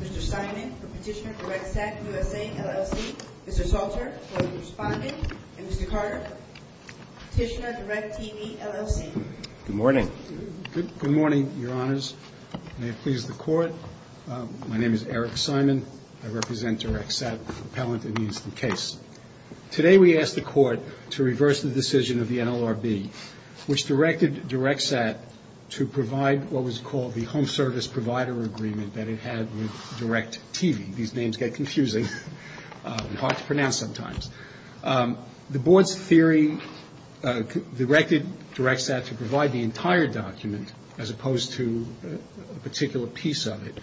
Mr. Simon for Petitioner DirectSat USA LLC, Mr. Salter for the Respondent, and Mr. Carter, Petitioner DirectTV LLC. Good morning. Good morning, your honors. May it please the court. My name is Eric Simon. I represent DirectSat Appellant in this case. Today, we ask the court to reverse the decision of the NLRB, which directed DirectSat to provide what was called the Home Service Provider Agreement that it had with DirectTV. These names get confusing and hard to pronounce sometimes. The board's theory directed DirectSat to provide the entire document as opposed to a particular piece of it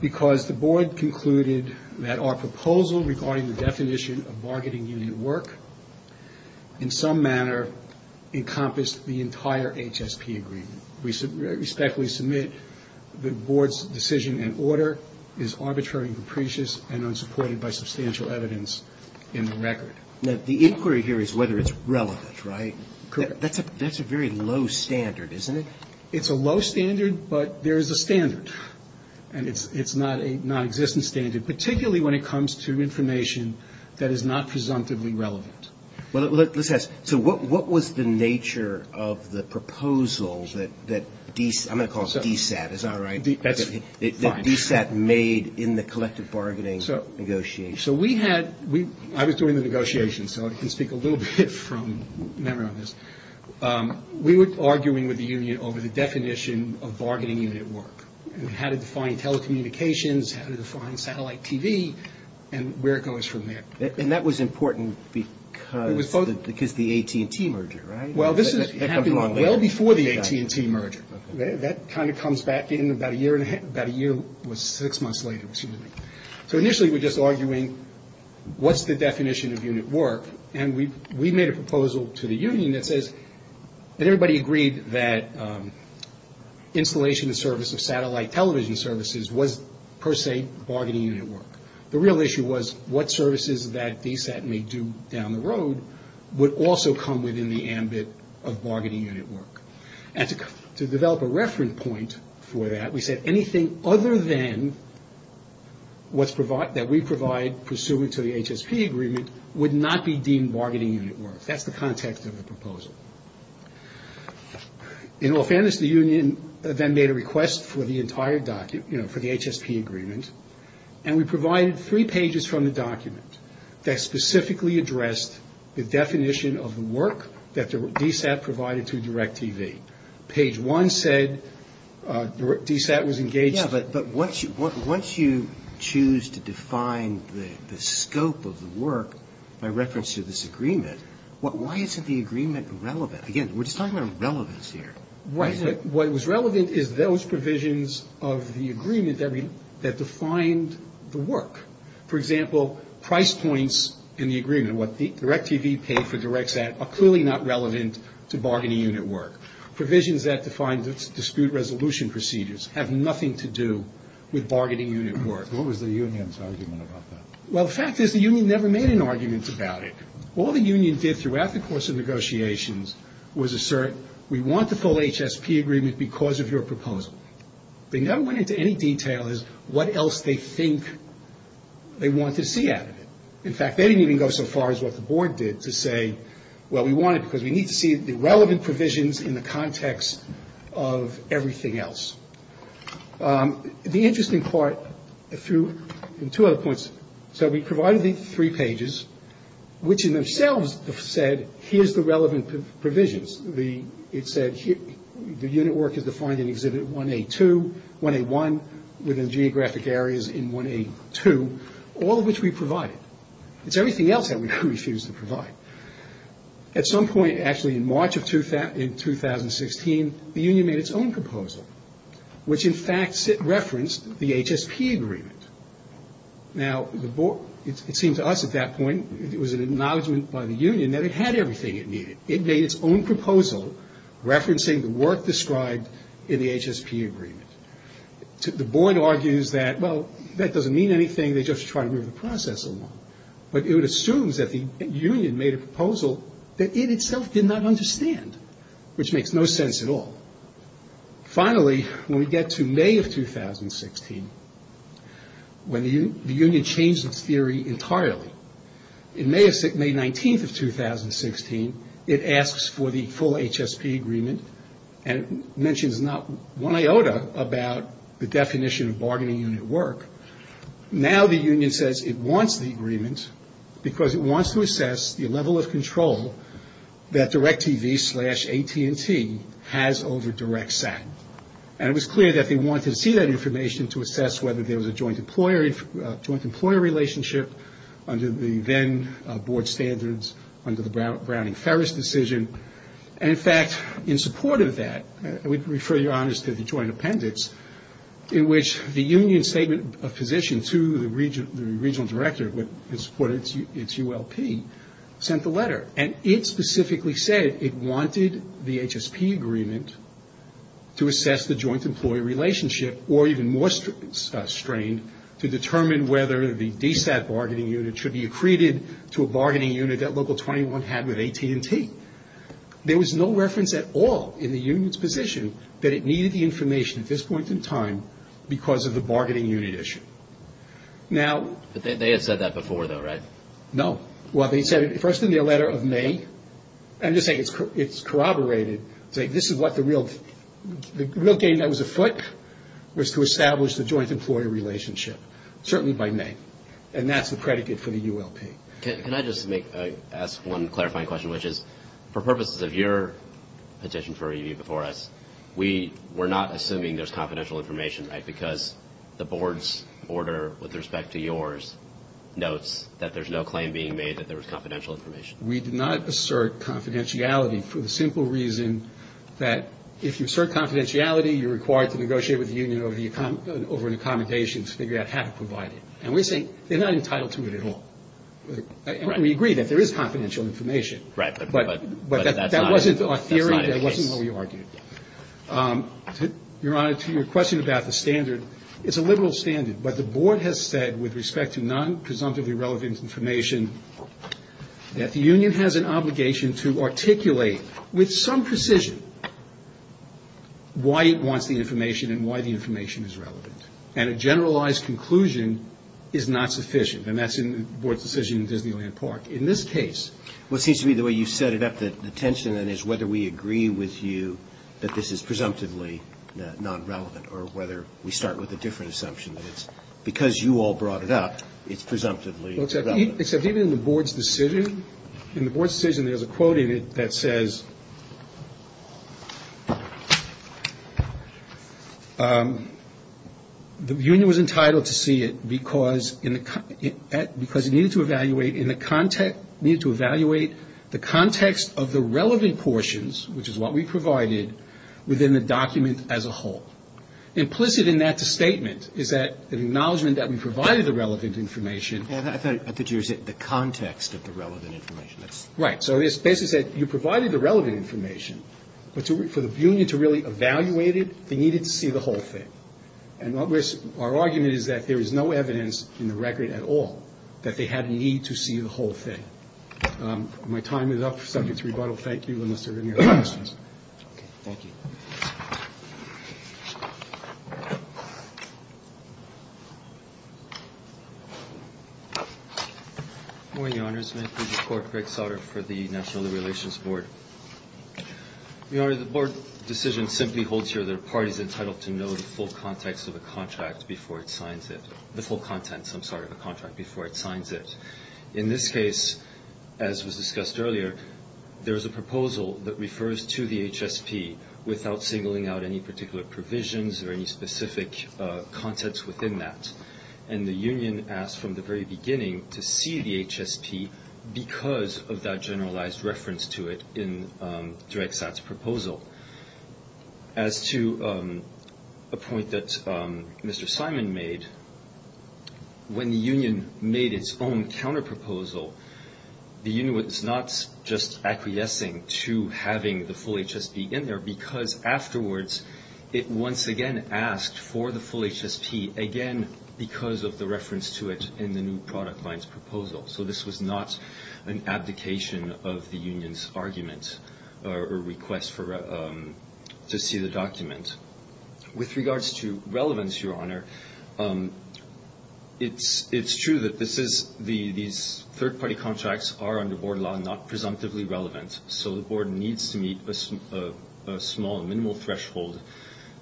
because the board concluded that our proposal regarding the definition of bargaining union work in some manner encompassed the entire HSP agreement. We respectfully submit the board's decision and order is arbitrary and capricious and unsupported by substantial evidence in the record. Now, the inquiry here is whether it's relevant, right? That's a very low standard, isn't it? It's a low standard, but there is a standard, and it's not a non-existent standard, particularly when it comes to information that is not presumptively relevant. So what was the nature of the proposal that DSAT made in the collective bargaining negotiation? I was doing the negotiations, so I can speak a little bit from memory on this. We were arguing with the union over the definition of bargaining unit work and how to define telecommunications, how to define satellite TV, and where it goes from there. And that was important because the AT&T merger, right? Well, this is happening well before the AT&T merger. That kind of comes back in about a year and a half. About a year was six months later, excuse me. So initially we were just arguing, what's the definition of unit work? And we made a proposal to the union that says that everybody agreed that installation and service of satellite television services was per se bargaining unit work. The real issue was what services that DSAT may do down the road would also come within the ambit of bargaining unit work. And to develop a reference point for that, we said anything other than what we provide pursuant to the HSP agreement would not be deemed bargaining unit work. That's the context of the proposal. In all fairness, the union then made a request for the entire document, for the HSP agreement, and we provided three pages from the document that specifically addressed the definition of the work that DSAT provided to DirecTV. Page one said DSAT was engaged. Yeah, but once you choose to define the scope of the work by reference to this agreement, why isn't the agreement relevant? Again, we're just talking about relevance here. Right, but what was relevant is those provisions of the agreement that defined the work. For example, price points in the agreement, what DirecTV paid for DirecSAT, are clearly not relevant to bargaining unit work. Provisions that define dispute resolution procedures have nothing to do with bargaining unit work. What was the union's argument about that? Well, the fact is the union never made an argument about it. All the union did throughout the course of negotiations was assert we want the full HSP agreement because of your proposal. They never went into any detail as what else they think they want to see out of it. In fact, they didn't even go so far as what the board did to say, well, we want it because we need to see the relevant provisions in the context of everything else. The interesting part through two other points. So we provided the three pages, which in themselves said, here's the relevant provisions. It said the unit work is defined in Exhibit 1A2, 1A1, within geographic areas in 1A2, all of which we provided. It's everything else that we refused to provide. At some point, actually in March of 2016, the union made its own proposal, which in fact referenced the HSP agreement. Now, it seemed to us at that point, it was an acknowledgement by the union that it had everything it needed. It made its own proposal referencing the work described in the HSP agreement. The board argues that, well, that doesn't mean anything. They just try to move the process along. But it assumes that the union made a proposal that it itself did not understand, which makes no sense at all. Finally, when we get to May of 2016, when the union changed its theory entirely, in May 19th of 2016, it asks for the full HSP agreement and mentions not one iota about the definition of bargaining unit work. Now, the union says it wants the agreement because it wants to assess the level of control that DirecTV slash AT&T has over DirecSat. And it was clear that they wanted to see that information to assess whether there was a joint employer relationship under the then board standards, under the Browning-Ferris decision. And, in fact, in support of that, we refer your honors to the joint appendix, in which the union's statement of position to the regional director in support of its ULP sent the letter. And it specifically said it wanted the HSP agreement to assess the joint employee relationship or even more strained to determine whether the DSAT bargaining unit should be accreted to a bargaining unit that Local 21 had with AT&T. There was no reference at all in the union's position that it needed the information at this point in time because of the bargaining unit issue. They had said that before, though, right? No. Well, they said it first in their letter of May. I'm just saying it's corroborated to say this is what the real game that was afoot was to establish the joint employer relationship, certainly by May. And that's the predicate for the ULP. Can I just ask one clarifying question, which is, for purposes of your petition for review before us, we're not assuming there's confidential information, right? Because the board's order with respect to yours notes that there's no claim being made that there was confidential information. We did not assert confidentiality for the simple reason that if you assert confidentiality, you're required to negotiate with the union over an accommodation to figure out how to provide it. And we're saying they're not entitled to it at all. And we agree that there is confidential information. Right. But that wasn't our theory. That wasn't what we argued. Your Honor, to your question about the standard, it's a liberal standard. But the board has said, with respect to non-presumptively relevant information, that the union has an obligation to articulate with some precision why it wants the information and why the information is relevant. And a generalized conclusion is not sufficient. And that's in the board's decision in Disneyland Park. In this case, what seems to be the way you set it up, the tension then is whether we agree with you that this is presumptively non-relevant or whether we start with a different assumption that it's because you all brought it up, it's presumptively relevant. Except even in the board's decision, in the board's decision, there's a quote in it that says, the union was entitled to see it because it needed to evaluate in the context of the relevant portions, which is what we provided, within the document as a whole. Implicit in that statement is that an acknowledgment that we provided the relevant information. I thought you said the context of the relevant information. Right. So this basically said you provided the relevant information, but for the union to really evaluate it, they needed to see the whole thing. And our argument is that there is no evidence in the record at all that they had a need to see the whole thing. My time is up. Seconds rebuttal. Thank you, unless there are any other questions. Okay. Thank you. Good morning, Your Honors. May it please the Court. Greg Sautter for the National Relations Board. Your Honor, the board decision simply holds here that a party is entitled to know the full context of a contract before it signs it. The full content, I'm sorry, of a contract before it signs it. In this case, as was discussed earlier, there is a proposal that refers to the HSP without singling out any particular provisions or any specific contents within that. And the union asked from the very beginning to see the HSP because of that generalized reference to it As to a point that Mr. Simon made, when the union made its own counterproposal, the union was not just acquiescing to having the full HSP in there because afterwards it once again asked for the full HSP, again, because of the reference to it in the new product line's proposal. So this was not an abdication of the union's argument or request to see the document. With regards to relevance, Your Honor, it's true that these third-party contracts are, under board law, not presumptively relevant, so the board needs to meet a small, minimal threshold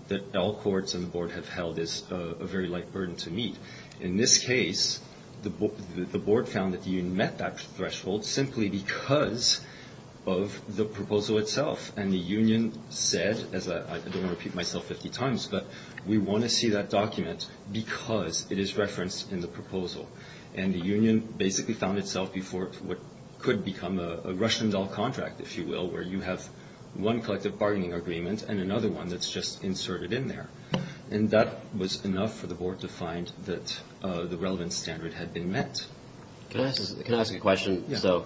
that all courts and the board have held as a very light burden to meet. In this case, the board found that the union met that threshold simply because of the proposal itself. And the union said, as I don't want to repeat myself 50 times, but we want to see that document because it is referenced in the proposal. And the union basically found itself before what could become a Russian doll contract, if you will, where you have one collective bargaining agreement and another one that's just inserted in there. And that was enough for the board to find that the relevance standard had been met. Can I ask a question? So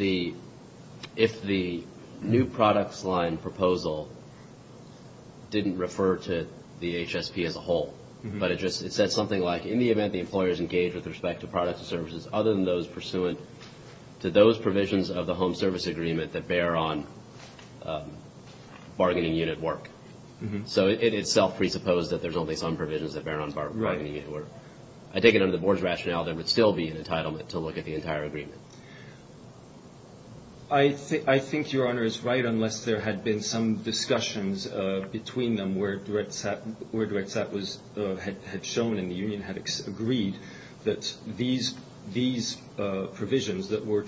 if the new products line proposal didn't refer to the HSP as a whole, but it just said something like, in the event the employers engage with respect to products and services other than those pursuant to those provisions of the Home Service Agreement that bear on bargaining unit work. So it itself presupposed that there's only some provisions that bear on bargaining unit work. Right. I take it under the board's rationale there would still be an entitlement to look at the entire agreement. I think Your Honor is right unless there had been some discussions between them where Dred Sapp had shown and the union had agreed that these provisions that were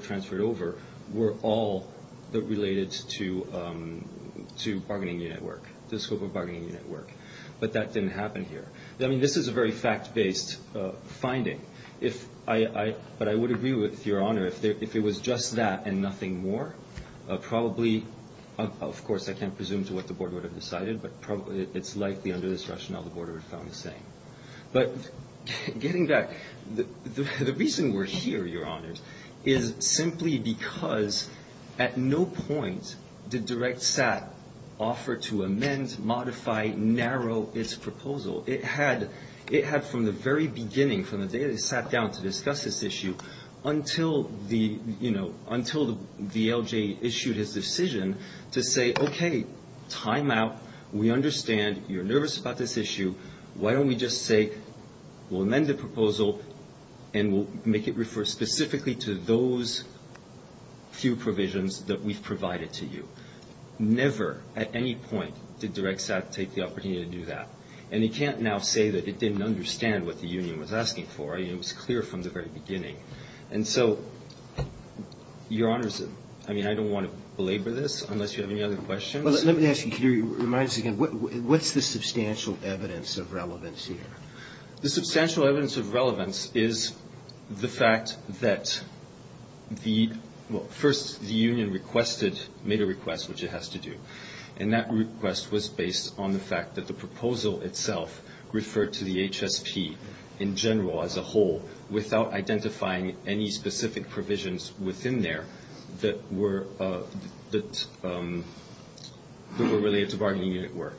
transferred over were all related to bargaining unit work, the scope of bargaining unit work. But that didn't happen here. I mean, this is a very fact-based finding. But I would agree with Your Honor if it was just that and nothing more, probably, of course, I can't presume to what the board would have decided, but it's likely under this rationale the board would have found the same. But getting back, the reason we're here, Your Honors, is simply because at no point did Dred Sapp offer to amend, modify, narrow its proposal. It had from the very beginning, from the day they sat down to discuss this issue, until VLJ issued his decision to say, okay, time out, we understand, you're nervous about this issue, why don't we just say we'll amend the proposal and we'll make it refer specifically to those few provisions that we've provided to you. Never at any point did Dred Sapp take the opportunity to do that. And you can't now say that it didn't understand what the union was asking for. It was clear from the very beginning. And so, Your Honors, I mean, I don't want to belabor this unless you have any other questions. Let me ask you, can you remind us again, what's the substantial evidence of relevance here? The substantial evidence of relevance is the fact that the union made a request, which it has to do, and that request was based on the fact that the proposal itself referred to the HSP in general, as a whole, without identifying any specific provisions within there that were related to bargaining unit work.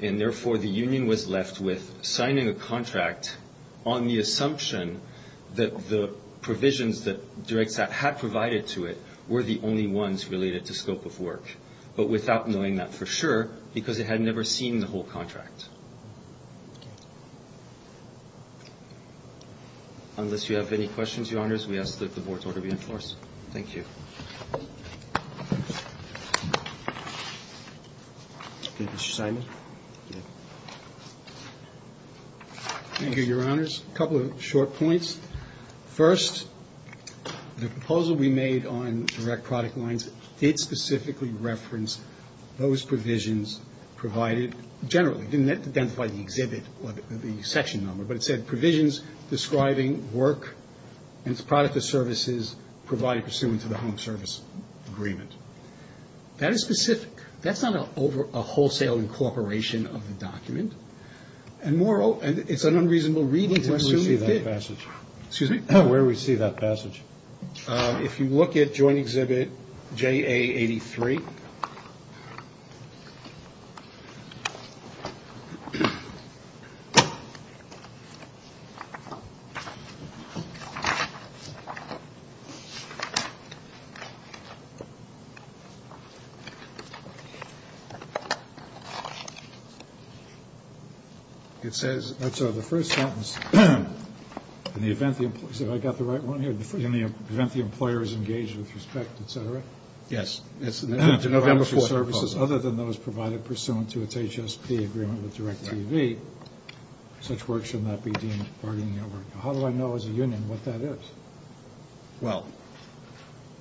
And therefore, the union was left with signing a contract on the assumption that the provisions that Dred Sapp had provided to it were the only ones related to scope of work, but without knowing that for sure because it had never seen the whole contract. Unless you have any questions, Your Honors, we ask that the Board's order be in force. Thank you. Mr. Simon. Thank you, Your Honors. A couple of short points. First, the proposal we made on direct product lines did specifically reference those provisions provided generally. It didn't identify the exhibit or the section number, but it said provisions describing work and its product or services provided pursuant to the Home Service Agreement. That is specific. That's not a wholesale incorporation of the document. And moreover, it's an unreasonable reading to presume it did. Excuse me. Where we see that passage. If you look at joint exhibit J.A. 83. It says. So the first sentence, in the event that I got the right one here, in the event the employer is engaged with respect, etc. Yes. It's November 4. Other than those provided pursuant to its H.S.P. agreement with Direct TV. Such work should not be deemed part of the network. How do I know as a union what that is? Well,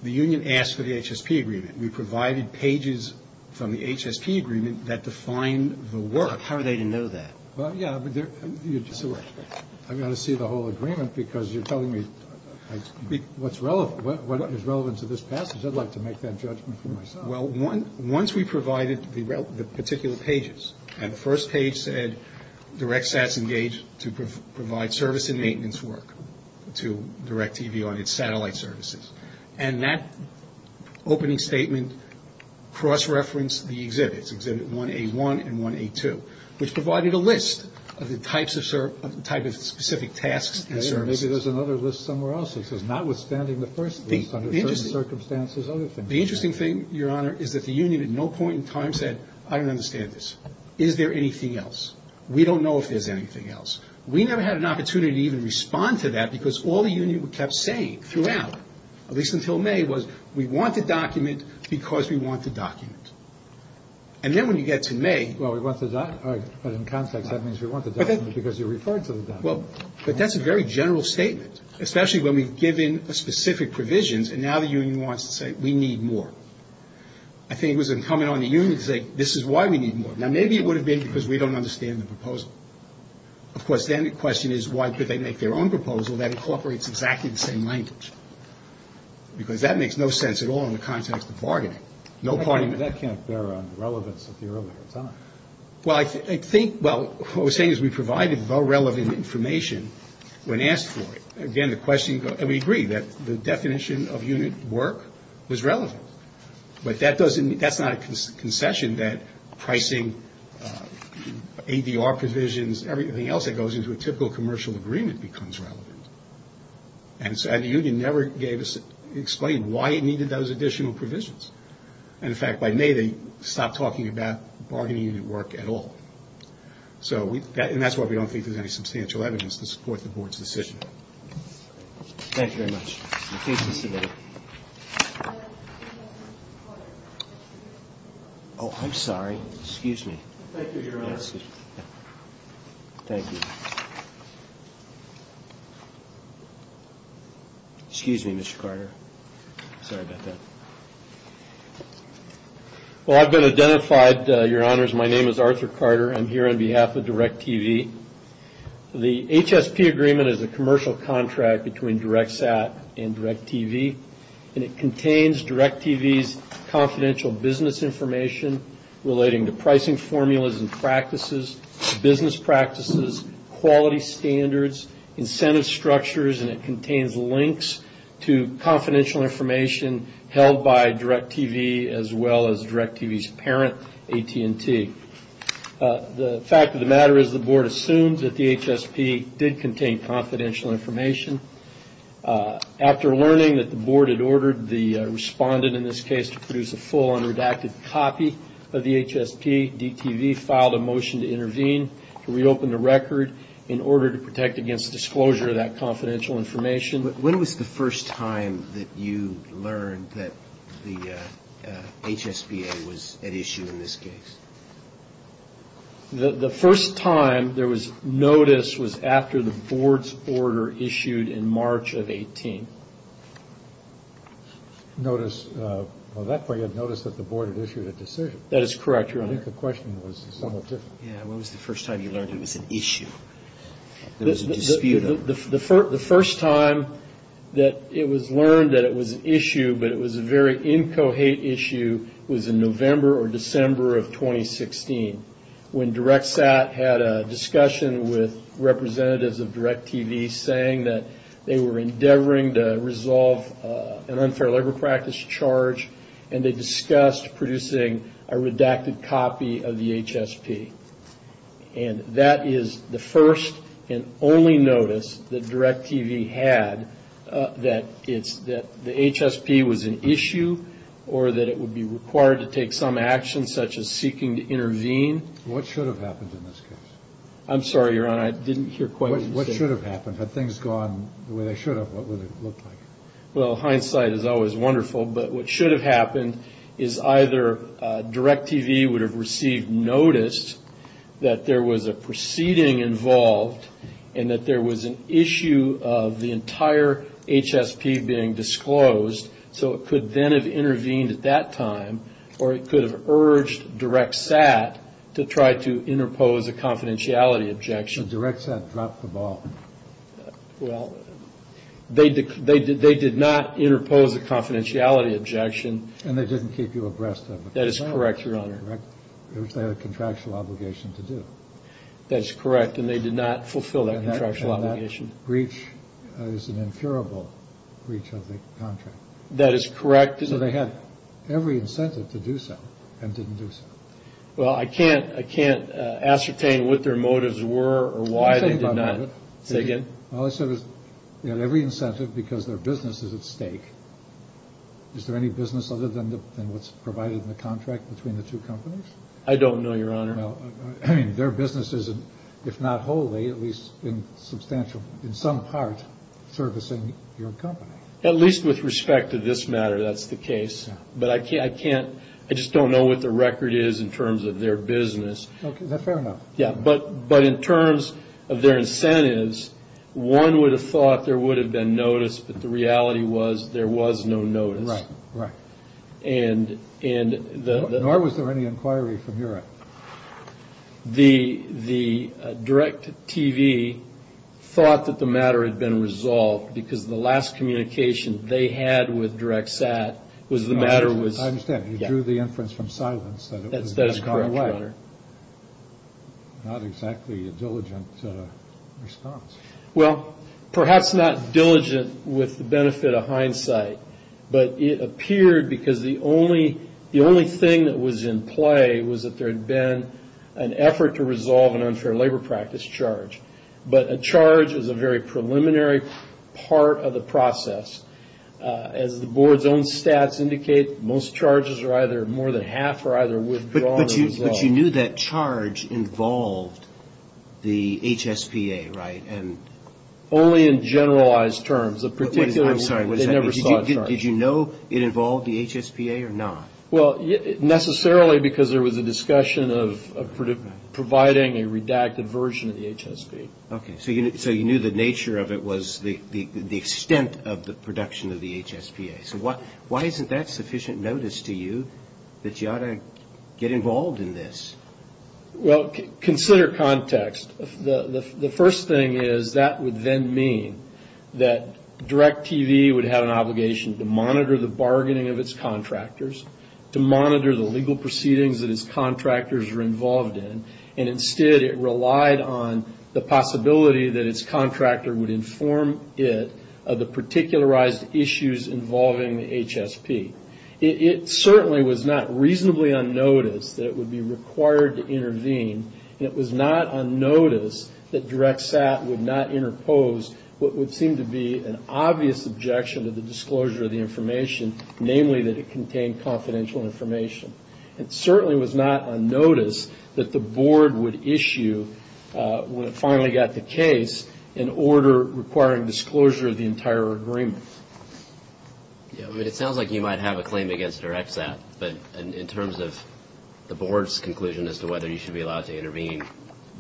the union asked for the H.S.P. agreement. We provided pages from the H.S.P. agreement that define the work. How are they to know that? Well, yeah. I've got to see the whole agreement because you're telling me what's relevant. What is relevant to this passage? I'd like to make that judgment for myself. Well, one once we provided the the particular pages and the first page said direct SAS engaged to provide service and maintenance work to direct TV on its satellite services. And that opening statement cross-referenced the exhibits. Exhibit 181 and 182, which provided a list of the types of type of specific tasks and services. I see there's another list somewhere else. It says notwithstanding the first piece under certain circumstances. The interesting thing, Your Honor, is that the union at no point in time said I don't understand this. Is there anything else? We don't know if there's anything else. We never had an opportunity to even respond to that because all the union kept saying throughout, at least until May, was we want the document because we want the document. And then when you get to May. Well, we want the document. But in context, that means we want the document because you referred to the document. Well, but that's a very general statement, especially when we've given a specific provisions. And now the union wants to say we need more. I think it was incumbent on the union to say this is why we need more. Now, maybe it would have been because we don't understand the proposal. Of course, then the question is, why did they make their own proposal that incorporates exactly the same language? Because that makes no sense at all in the context of bargaining. No party. That can't bear on relevance at the earlier time. Well, I think, well, what we're saying is we provided the relevant information when asked for it. Again, the question, and we agree that the definition of unit work was relevant. But that doesn't, that's not a concession that pricing, ADR provisions, everything else that goes into a typical commercial agreement becomes relevant. And so the union never gave us, explained why it needed those additional provisions. And, in fact, by nay, they stopped talking about bargaining unit work at all. So, and that's why we don't think there's any substantial evidence to support the board's decision. Thank you very much. Excuse me. Oh, I'm sorry. Excuse me. Thank you, Your Honor. Thank you. Excuse me, Mr. Carter. Sorry about that. Well, I've been identified, Your Honors. My name is Arthur Carter. I'm here on behalf of DIRECTV. The HSP agreement is a commercial contract between DIRECTSAT and DIRECTV, and it contains DIRECTV's confidential business information relating to pricing formulas and practices, business practices, quality standards, incentive structures, and it contains links to confidential information held by DIRECTV as well as DIRECTV's parent, AT&T. The fact of the matter is the board assumed that the HSP did contain confidential information. After learning that the board had ordered the respondent, in this case, to produce a full unredacted copy of the HSP, DTV filed a motion to intervene, to reopen the record in order to protect against disclosure of that confidential information. When was the first time that you learned that the HSPA was at issue in this case? The first time there was notice was after the board's order issued in March of 18. Notice of that point, you had noticed that the board had issued a decision. That is correct, Your Honor. I think the question was somewhat different. Yeah, when was the first time you learned it was an issue? The first time that it was learned that it was an issue, but it was a very incohate issue, was in November or December of 2016 when DIRECTSAT had a discussion with representatives of DIRECTV saying that they were endeavoring to resolve an unfair labor practice charge, and they discussed producing a redacted copy of the HSP. And that is the first and only notice that DIRECTV had that the HSP was an issue or that it would be required to take some action, such as seeking to intervene. What should have happened in this case? I'm sorry, Your Honor. I didn't hear quite what you said. What should have happened? Had things gone the way they should have, what would it have looked like? Well, hindsight is always wonderful, but what should have happened is either DIRECTV would have received notice that there was a proceeding involved and that there was an issue of the entire HSP being disclosed, so it could then have intervened at that time, or it could have urged DIRECTSAT to try to interpose a confidentiality objection. So DIRECTSAT dropped the ball. Well, they did not interpose a confidentiality objection. And they didn't keep you abreast of the contract. That is correct, Your Honor. They had a contractual obligation to do. That is correct, and they did not fulfill that contractual obligation. And that breach is an inferable breach of the contract. That is correct. So they had every incentive to do so and didn't do so. Well, I can't ascertain what their motives were or why they did not. Say again. All I said is they had every incentive because their business is at stake. Is there any business other than what is provided in the contract between the two companies? I don't know, Your Honor. I mean, their business is, if not wholly, at least in some part, servicing your company. At least with respect to this matter, that is the case. But I just don't know what the record is in terms of their business. Okay, fair enough. Yeah, but in terms of their incentives, one would have thought there would have been notice, but the reality was there was no notice. Right, right. Nor was there any inquiry from your end. The DIRECTV thought that the matter had been resolved because the last communication they had with DIRECTSAT was the matter was... I understand. You drew the inference from silence. That is correct, Your Honor. Not exactly a diligent response. Well, perhaps not diligent with the benefit of hindsight, but it appeared because the only thing that was in play was that there had been an effort to resolve an unfair labor practice charge. But a charge is a very preliminary part of the process. As the Board's own stats indicate, most charges are either more than half or either withdrawn or resolved. But you knew that charge involved the HSPA, right? Only in generalized terms. I'm sorry, did you know it involved the HSPA or not? Well, necessarily because there was a discussion of providing a redacted version of the HSPA. Okay, so you knew the nature of it was the extent of the production of the HSPA. So why isn't that sufficient notice to you that you ought to get involved in this? Well, consider context. The first thing is that would then mean that DIRECTV would have an obligation to monitor the bargaining of its contractors, to monitor the legal proceedings that its contractors were involved in, and instead it relied on the possibility that its contractor would inform it of the particularized issues involving the HSP. It certainly was not reasonably unnoticed that it would be required to intervene, and it was not unnoticed that DirectSAT would not interpose what would seem to be an obvious objection to the disclosure of the information, namely that it contained confidential information. It certainly was not unnoticed that the Board would issue, when it finally got the case, an order requiring disclosure of the entire agreement. It sounds like you might have a claim against DirectSAT, but in terms of the Board's conclusion as to whether you should be allowed to intervene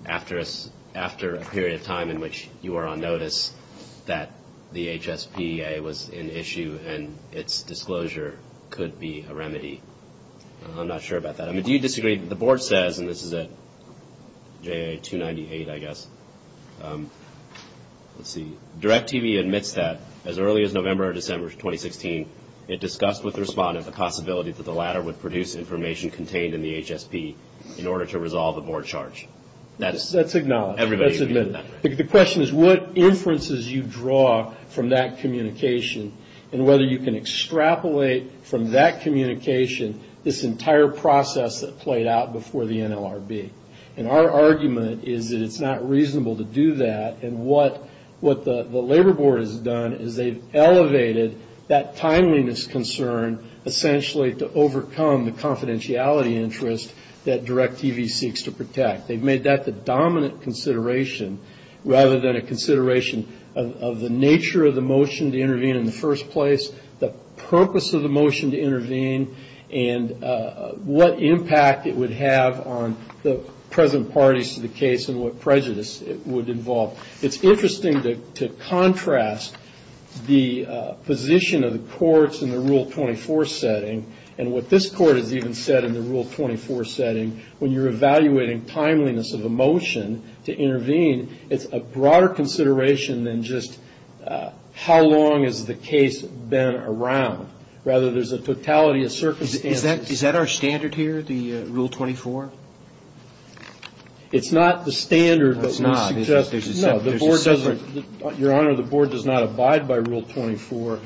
after a period of time in which you are on notice that the HSPA was in issue and its disclosure could be a remedy, I'm not sure about that. Do you disagree that the Board says, and this is at J.A. 298, I guess, let's see, DirectTV admits that as early as November or December 2016, it discussed with the respondent the possibility that the latter would produce information contained in the HSP in order to resolve a Board charge. That's acknowledged. That's admitted. The question is what inferences you draw from that communication and whether you can extrapolate from that communication this entire process that played out before the NLRB. And our argument is that it's not reasonable to do that, and what the Labor Board has done is they've elevated that timeliness concern, essentially to overcome the confidentiality interest that DirectTV seeks to protect. They've made that the dominant consideration rather than a consideration of the nature of the motion to intervene in the first place, the purpose of the motion to intervene, and what impact it would have on the present parties to the case and what prejudice it would involve. It's interesting to contrast the position of the courts in the Rule 24 setting and what this court has even said in the Rule 24 setting, when you're evaluating timeliness of a motion to intervene, it's a broader consideration than just how long has the case been around. Rather, there's a totality of circumstances. Is that our standard here, the Rule 24? It's not the standard. No, it's not. No, Your Honor, the Board does not abide by Rule 24,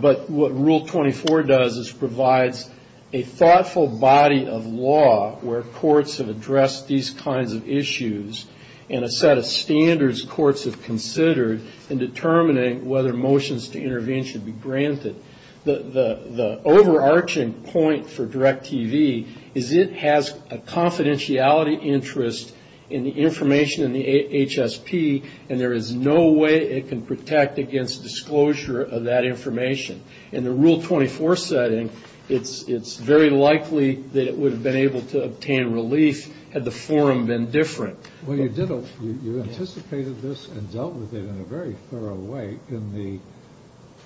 but what Rule 24 does is provides a thoughtful body of law where courts have addressed these kinds of issues and a set of standards courts have considered in determining whether motions to intervene should be granted. The overarching point for DirectTV is it has a confidentiality interest in the information in the HSP, and there is no way it can protect against disclosure of that information. In the Rule 24 setting, it's very likely that it would have been able to obtain relief had the forum been different. Well, you anticipated this and dealt with it in a very thorough way in the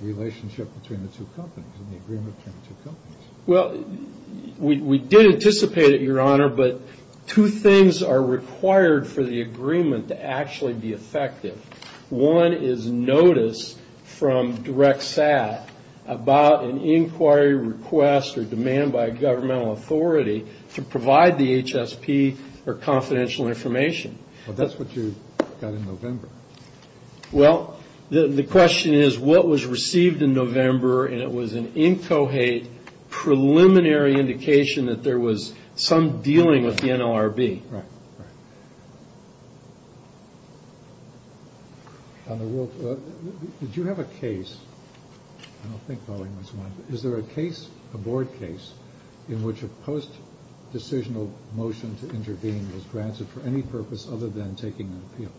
relationship between the two companies, in the agreement between the two companies. Well, we did anticipate it, Your Honor, but two things are required for the agreement to actually be effective. One is notice from DirectSAT about an inquiry request or demand by a governmental authority to provide the HSP or confidential information. Well, that's what you got in November. Well, the question is what was received in November, and it was an incohate preliminary indication that there was some dealing with the NLRB. Right, right. On the Rule 24, did you have a case? I don't think Boeing was one. Is there a case, a board case, in which a post-decisional motion to intervene was granted for any purpose other than taking an appeal?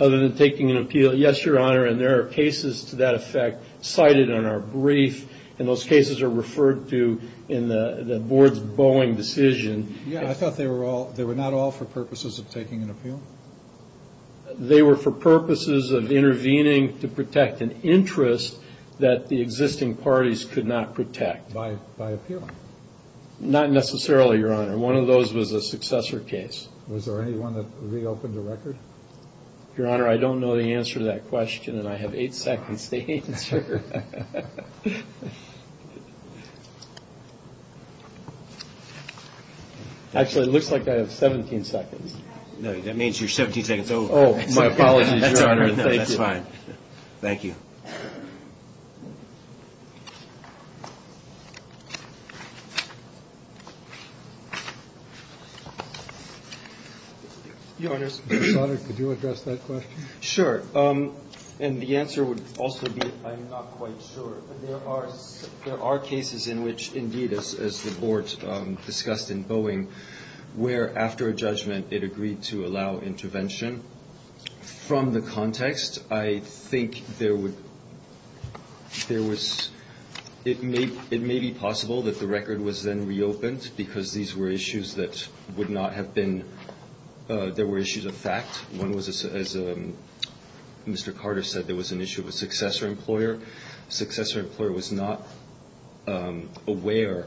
Other than taking an appeal, yes, Your Honor, and there are cases to that effect cited in our brief, and those cases are referred to in the board's Boeing decision. Yeah, I thought they were not all for purposes of taking an appeal? They were for purposes of intervening to protect an interest that the existing parties could not protect. By appealing? Not necessarily, Your Honor. One of those was a successor case. Was there anyone that reopened the record? Your Honor, I don't know the answer to that question, and I have eight seconds to answer. Actually, it looks like I have 17 seconds. No, that means you're 17 seconds over. Oh, my apologies, Your Honor. No, that's fine. Thank you. Your Honor, could you address that question? Sure, and the answer would also be I'm not quite sure, but there are cases in which, indeed, as the board discussed in Boeing, where after a judgment it agreed to allow intervention. From the context, I think it may be possible that the record was then reopened because there were issues of fact. One was, as Mr. Carter said, there was an issue of a successor employer. A successor employer was not aware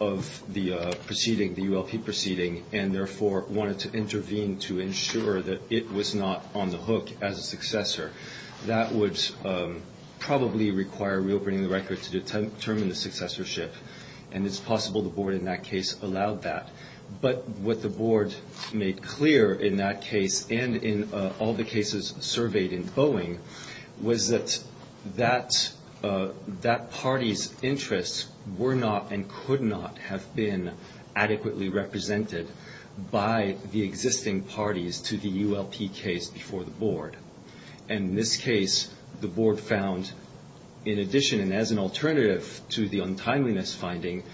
of the proceeding, the ULP proceeding, and therefore wanted to intervene to ensure that it was not on the hook as a successor. That would probably require reopening the record to determine the successorship, and it's possible the board in that case allowed that. But what the board made clear in that case, and in all the cases surveyed in Boeing, was that that party's interests were not and could not have been adequately represented by the existing parties to the ULP case before the board. And in this case, the board found, in addition and as an alternative to the untimeliness finding,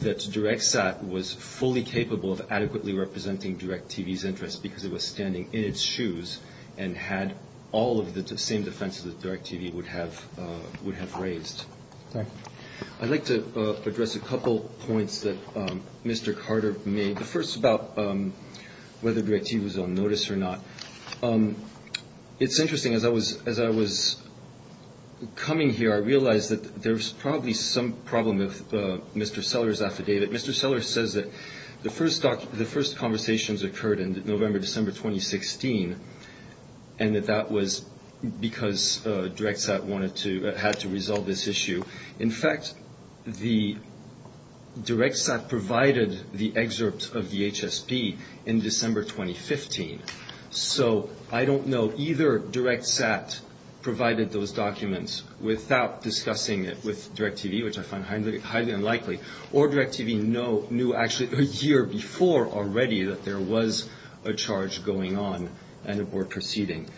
that DirecTSat was fully capable of adequately representing DirecTV's interests because it was standing in its shoes and had all of the same defenses that DirecTV would have raised. I'd like to address a couple points that Mr. Carter made. The first is about whether DirecTV was on notice or not. It's interesting. As I was coming here, I realized that there was probably some problem with Mr. Seller's affidavit. Mr. Seller says that the first conversations occurred in November, December 2016, and that that was because DirecTSat had to resolve this issue. In fact, DirecTSat provided the excerpt of the HSP in December 2015. So I don't know. Either DirecTSat provided those documents without discussing it with DirecTV, which I find highly unlikely, or DirecTV knew actually a year before already that there was a charge going on and a board proceeding.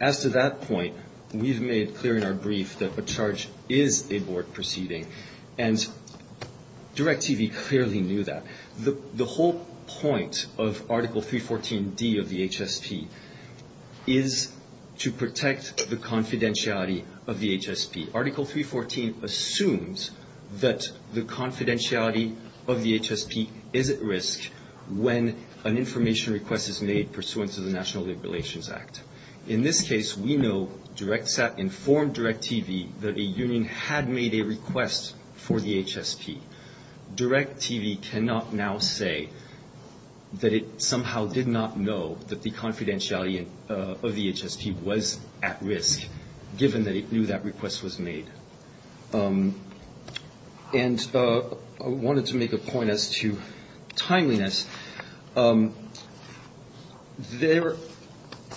As to that point, we've made clear in our brief that a charge is a board proceeding, and DirecTV clearly knew that. The whole point of Article 314D of the HSP is to protect the confidentiality of the HSP. Article 314 assumes that the confidentiality of the HSP is at risk when an information request is made pursuant to the National Labor Relations Act. In this case, we know DirecTSat informed DirecTV that a union had made a request for the HSP. DirecTV cannot now say that it somehow did not know that the confidentiality of the HSP was at risk, given that it knew that request was made. And I wanted to make a point as to timeliness. Neither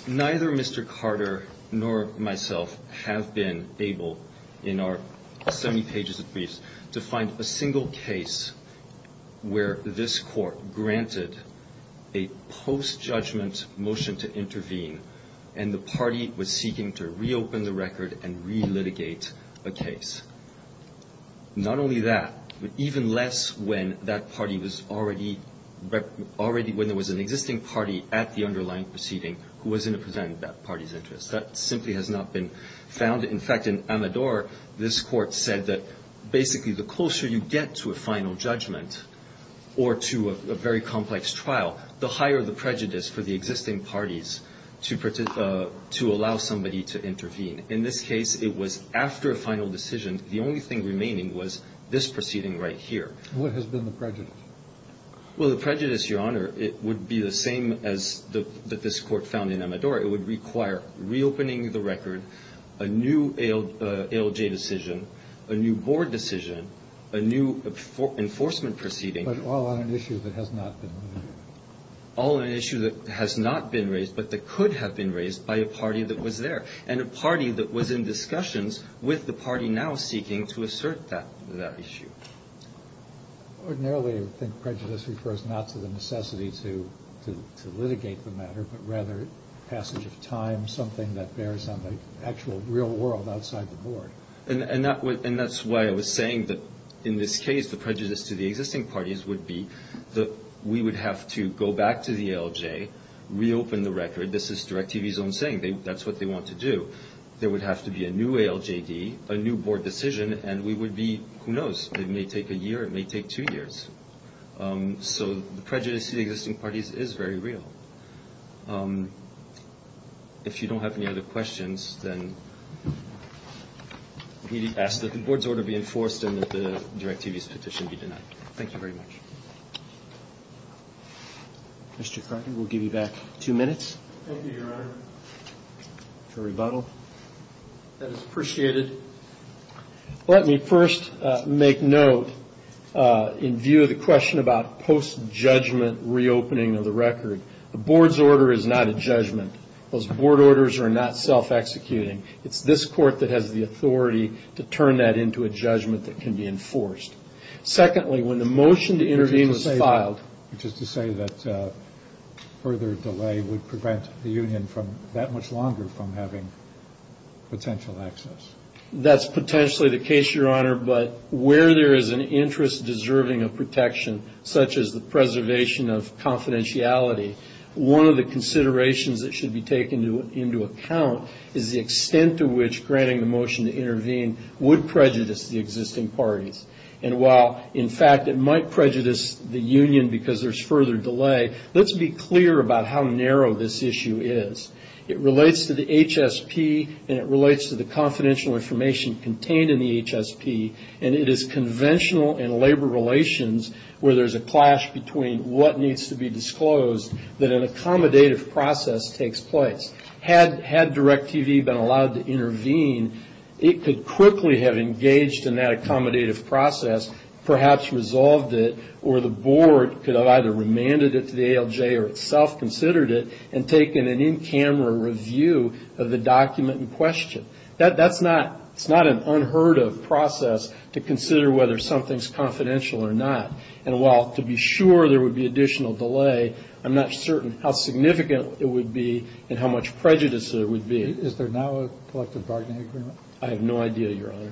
Mr. Carter nor myself have been able, in our 70 pages of briefs, to find a single case where this Court granted a post-judgment motion to intervene, and the party was seeking to reopen the record and re-litigate a case. Not only that, but even less when that party was already, when there was an existing party at the underlying proceeding who was in a position of that party's interest. That simply has not been found. In fact, in Amador, this Court said that basically the closer you get to a final judgment or to a very complex trial, the higher the prejudice for the existing parties to allow somebody to intervene. In this case, it was after a final decision. The only thing remaining was this proceeding right here. What has been the prejudice? Well, the prejudice, Your Honor, it would be the same as this Court found in Amador. reopening the record, a new ALJ decision, a new board decision, a new enforcement proceeding. But all on an issue that has not been raised. All on an issue that has not been raised, but that could have been raised by a party that was there, and a party that was in discussions with the party now seeking to assert that issue. Ordinarily, I think prejudice refers not to the necessity to litigate the matter, but rather passage of time, something that bears on the actual real world outside the board. And that's why I was saying that in this case, the prejudice to the existing parties would be that we would have to go back to the ALJ, reopen the record. This is Directivison saying that's what they want to do. There would have to be a new ALJD, a new board decision, and we would be, who knows, it may take a year, it may take two years. So the prejudice to the existing parties is very real. If you don't have any other questions, then we ask that the board's order be enforced and that the directivist petition be denied. Thank you very much. Mr. Crockett, we'll give you back two minutes. Thank you, Your Honor. For rebuttal. That is appreciated. Let me first make note, in view of the question about post-judgment reopening of the record, the board's order is not a judgment. Those board orders are not self-executing. It's this court that has the authority to turn that into a judgment that can be enforced. Which is to say that further delay would prevent the union from that much longer from having potential access. That's potentially the case, Your Honor. But where there is an interest deserving of protection, such as the preservation of confidentiality, one of the considerations that should be taken into account is the extent to which granting the motion to intervene would prejudice the existing parties. And while, in fact, it might prejudice the union because there's further delay, let's be clear about how narrow this issue is. It relates to the HSP, and it relates to the confidential information contained in the HSP, and it is conventional in labor relations where there's a clash between what needs to be disclosed that an accommodative process takes place. Had DIRECTV been allowed to intervene, it could quickly have engaged in that accommodative process, perhaps resolved it, or the board could have either remanded it to the ALJ or itself considered it and taken an in-camera review of the document in question. That's not an unheard-of process to consider whether something's confidential or not. And while to be sure there would be additional delay, I'm not certain how significant it would be and how much prejudice there would be. Is there now a collective bargaining agreement? I have no idea, Your Honor.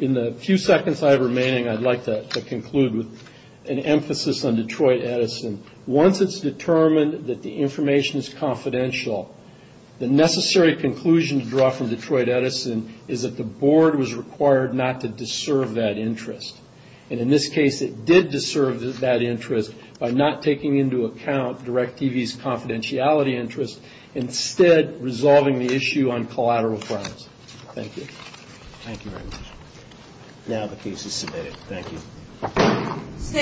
In the few seconds I have remaining, I'd like to conclude with an emphasis on Detroit Edison. Once it's determined that the information is confidential, the necessary conclusion to draw from Detroit Edison is that the board was required not to deserve that interest. And in this case, it did deserve that interest by not taking into account DIRECTV's confidentiality interest, instead resolving the issue on collateral grounds. Thank you. Thank you very much. Now the case is submitted. Thank you.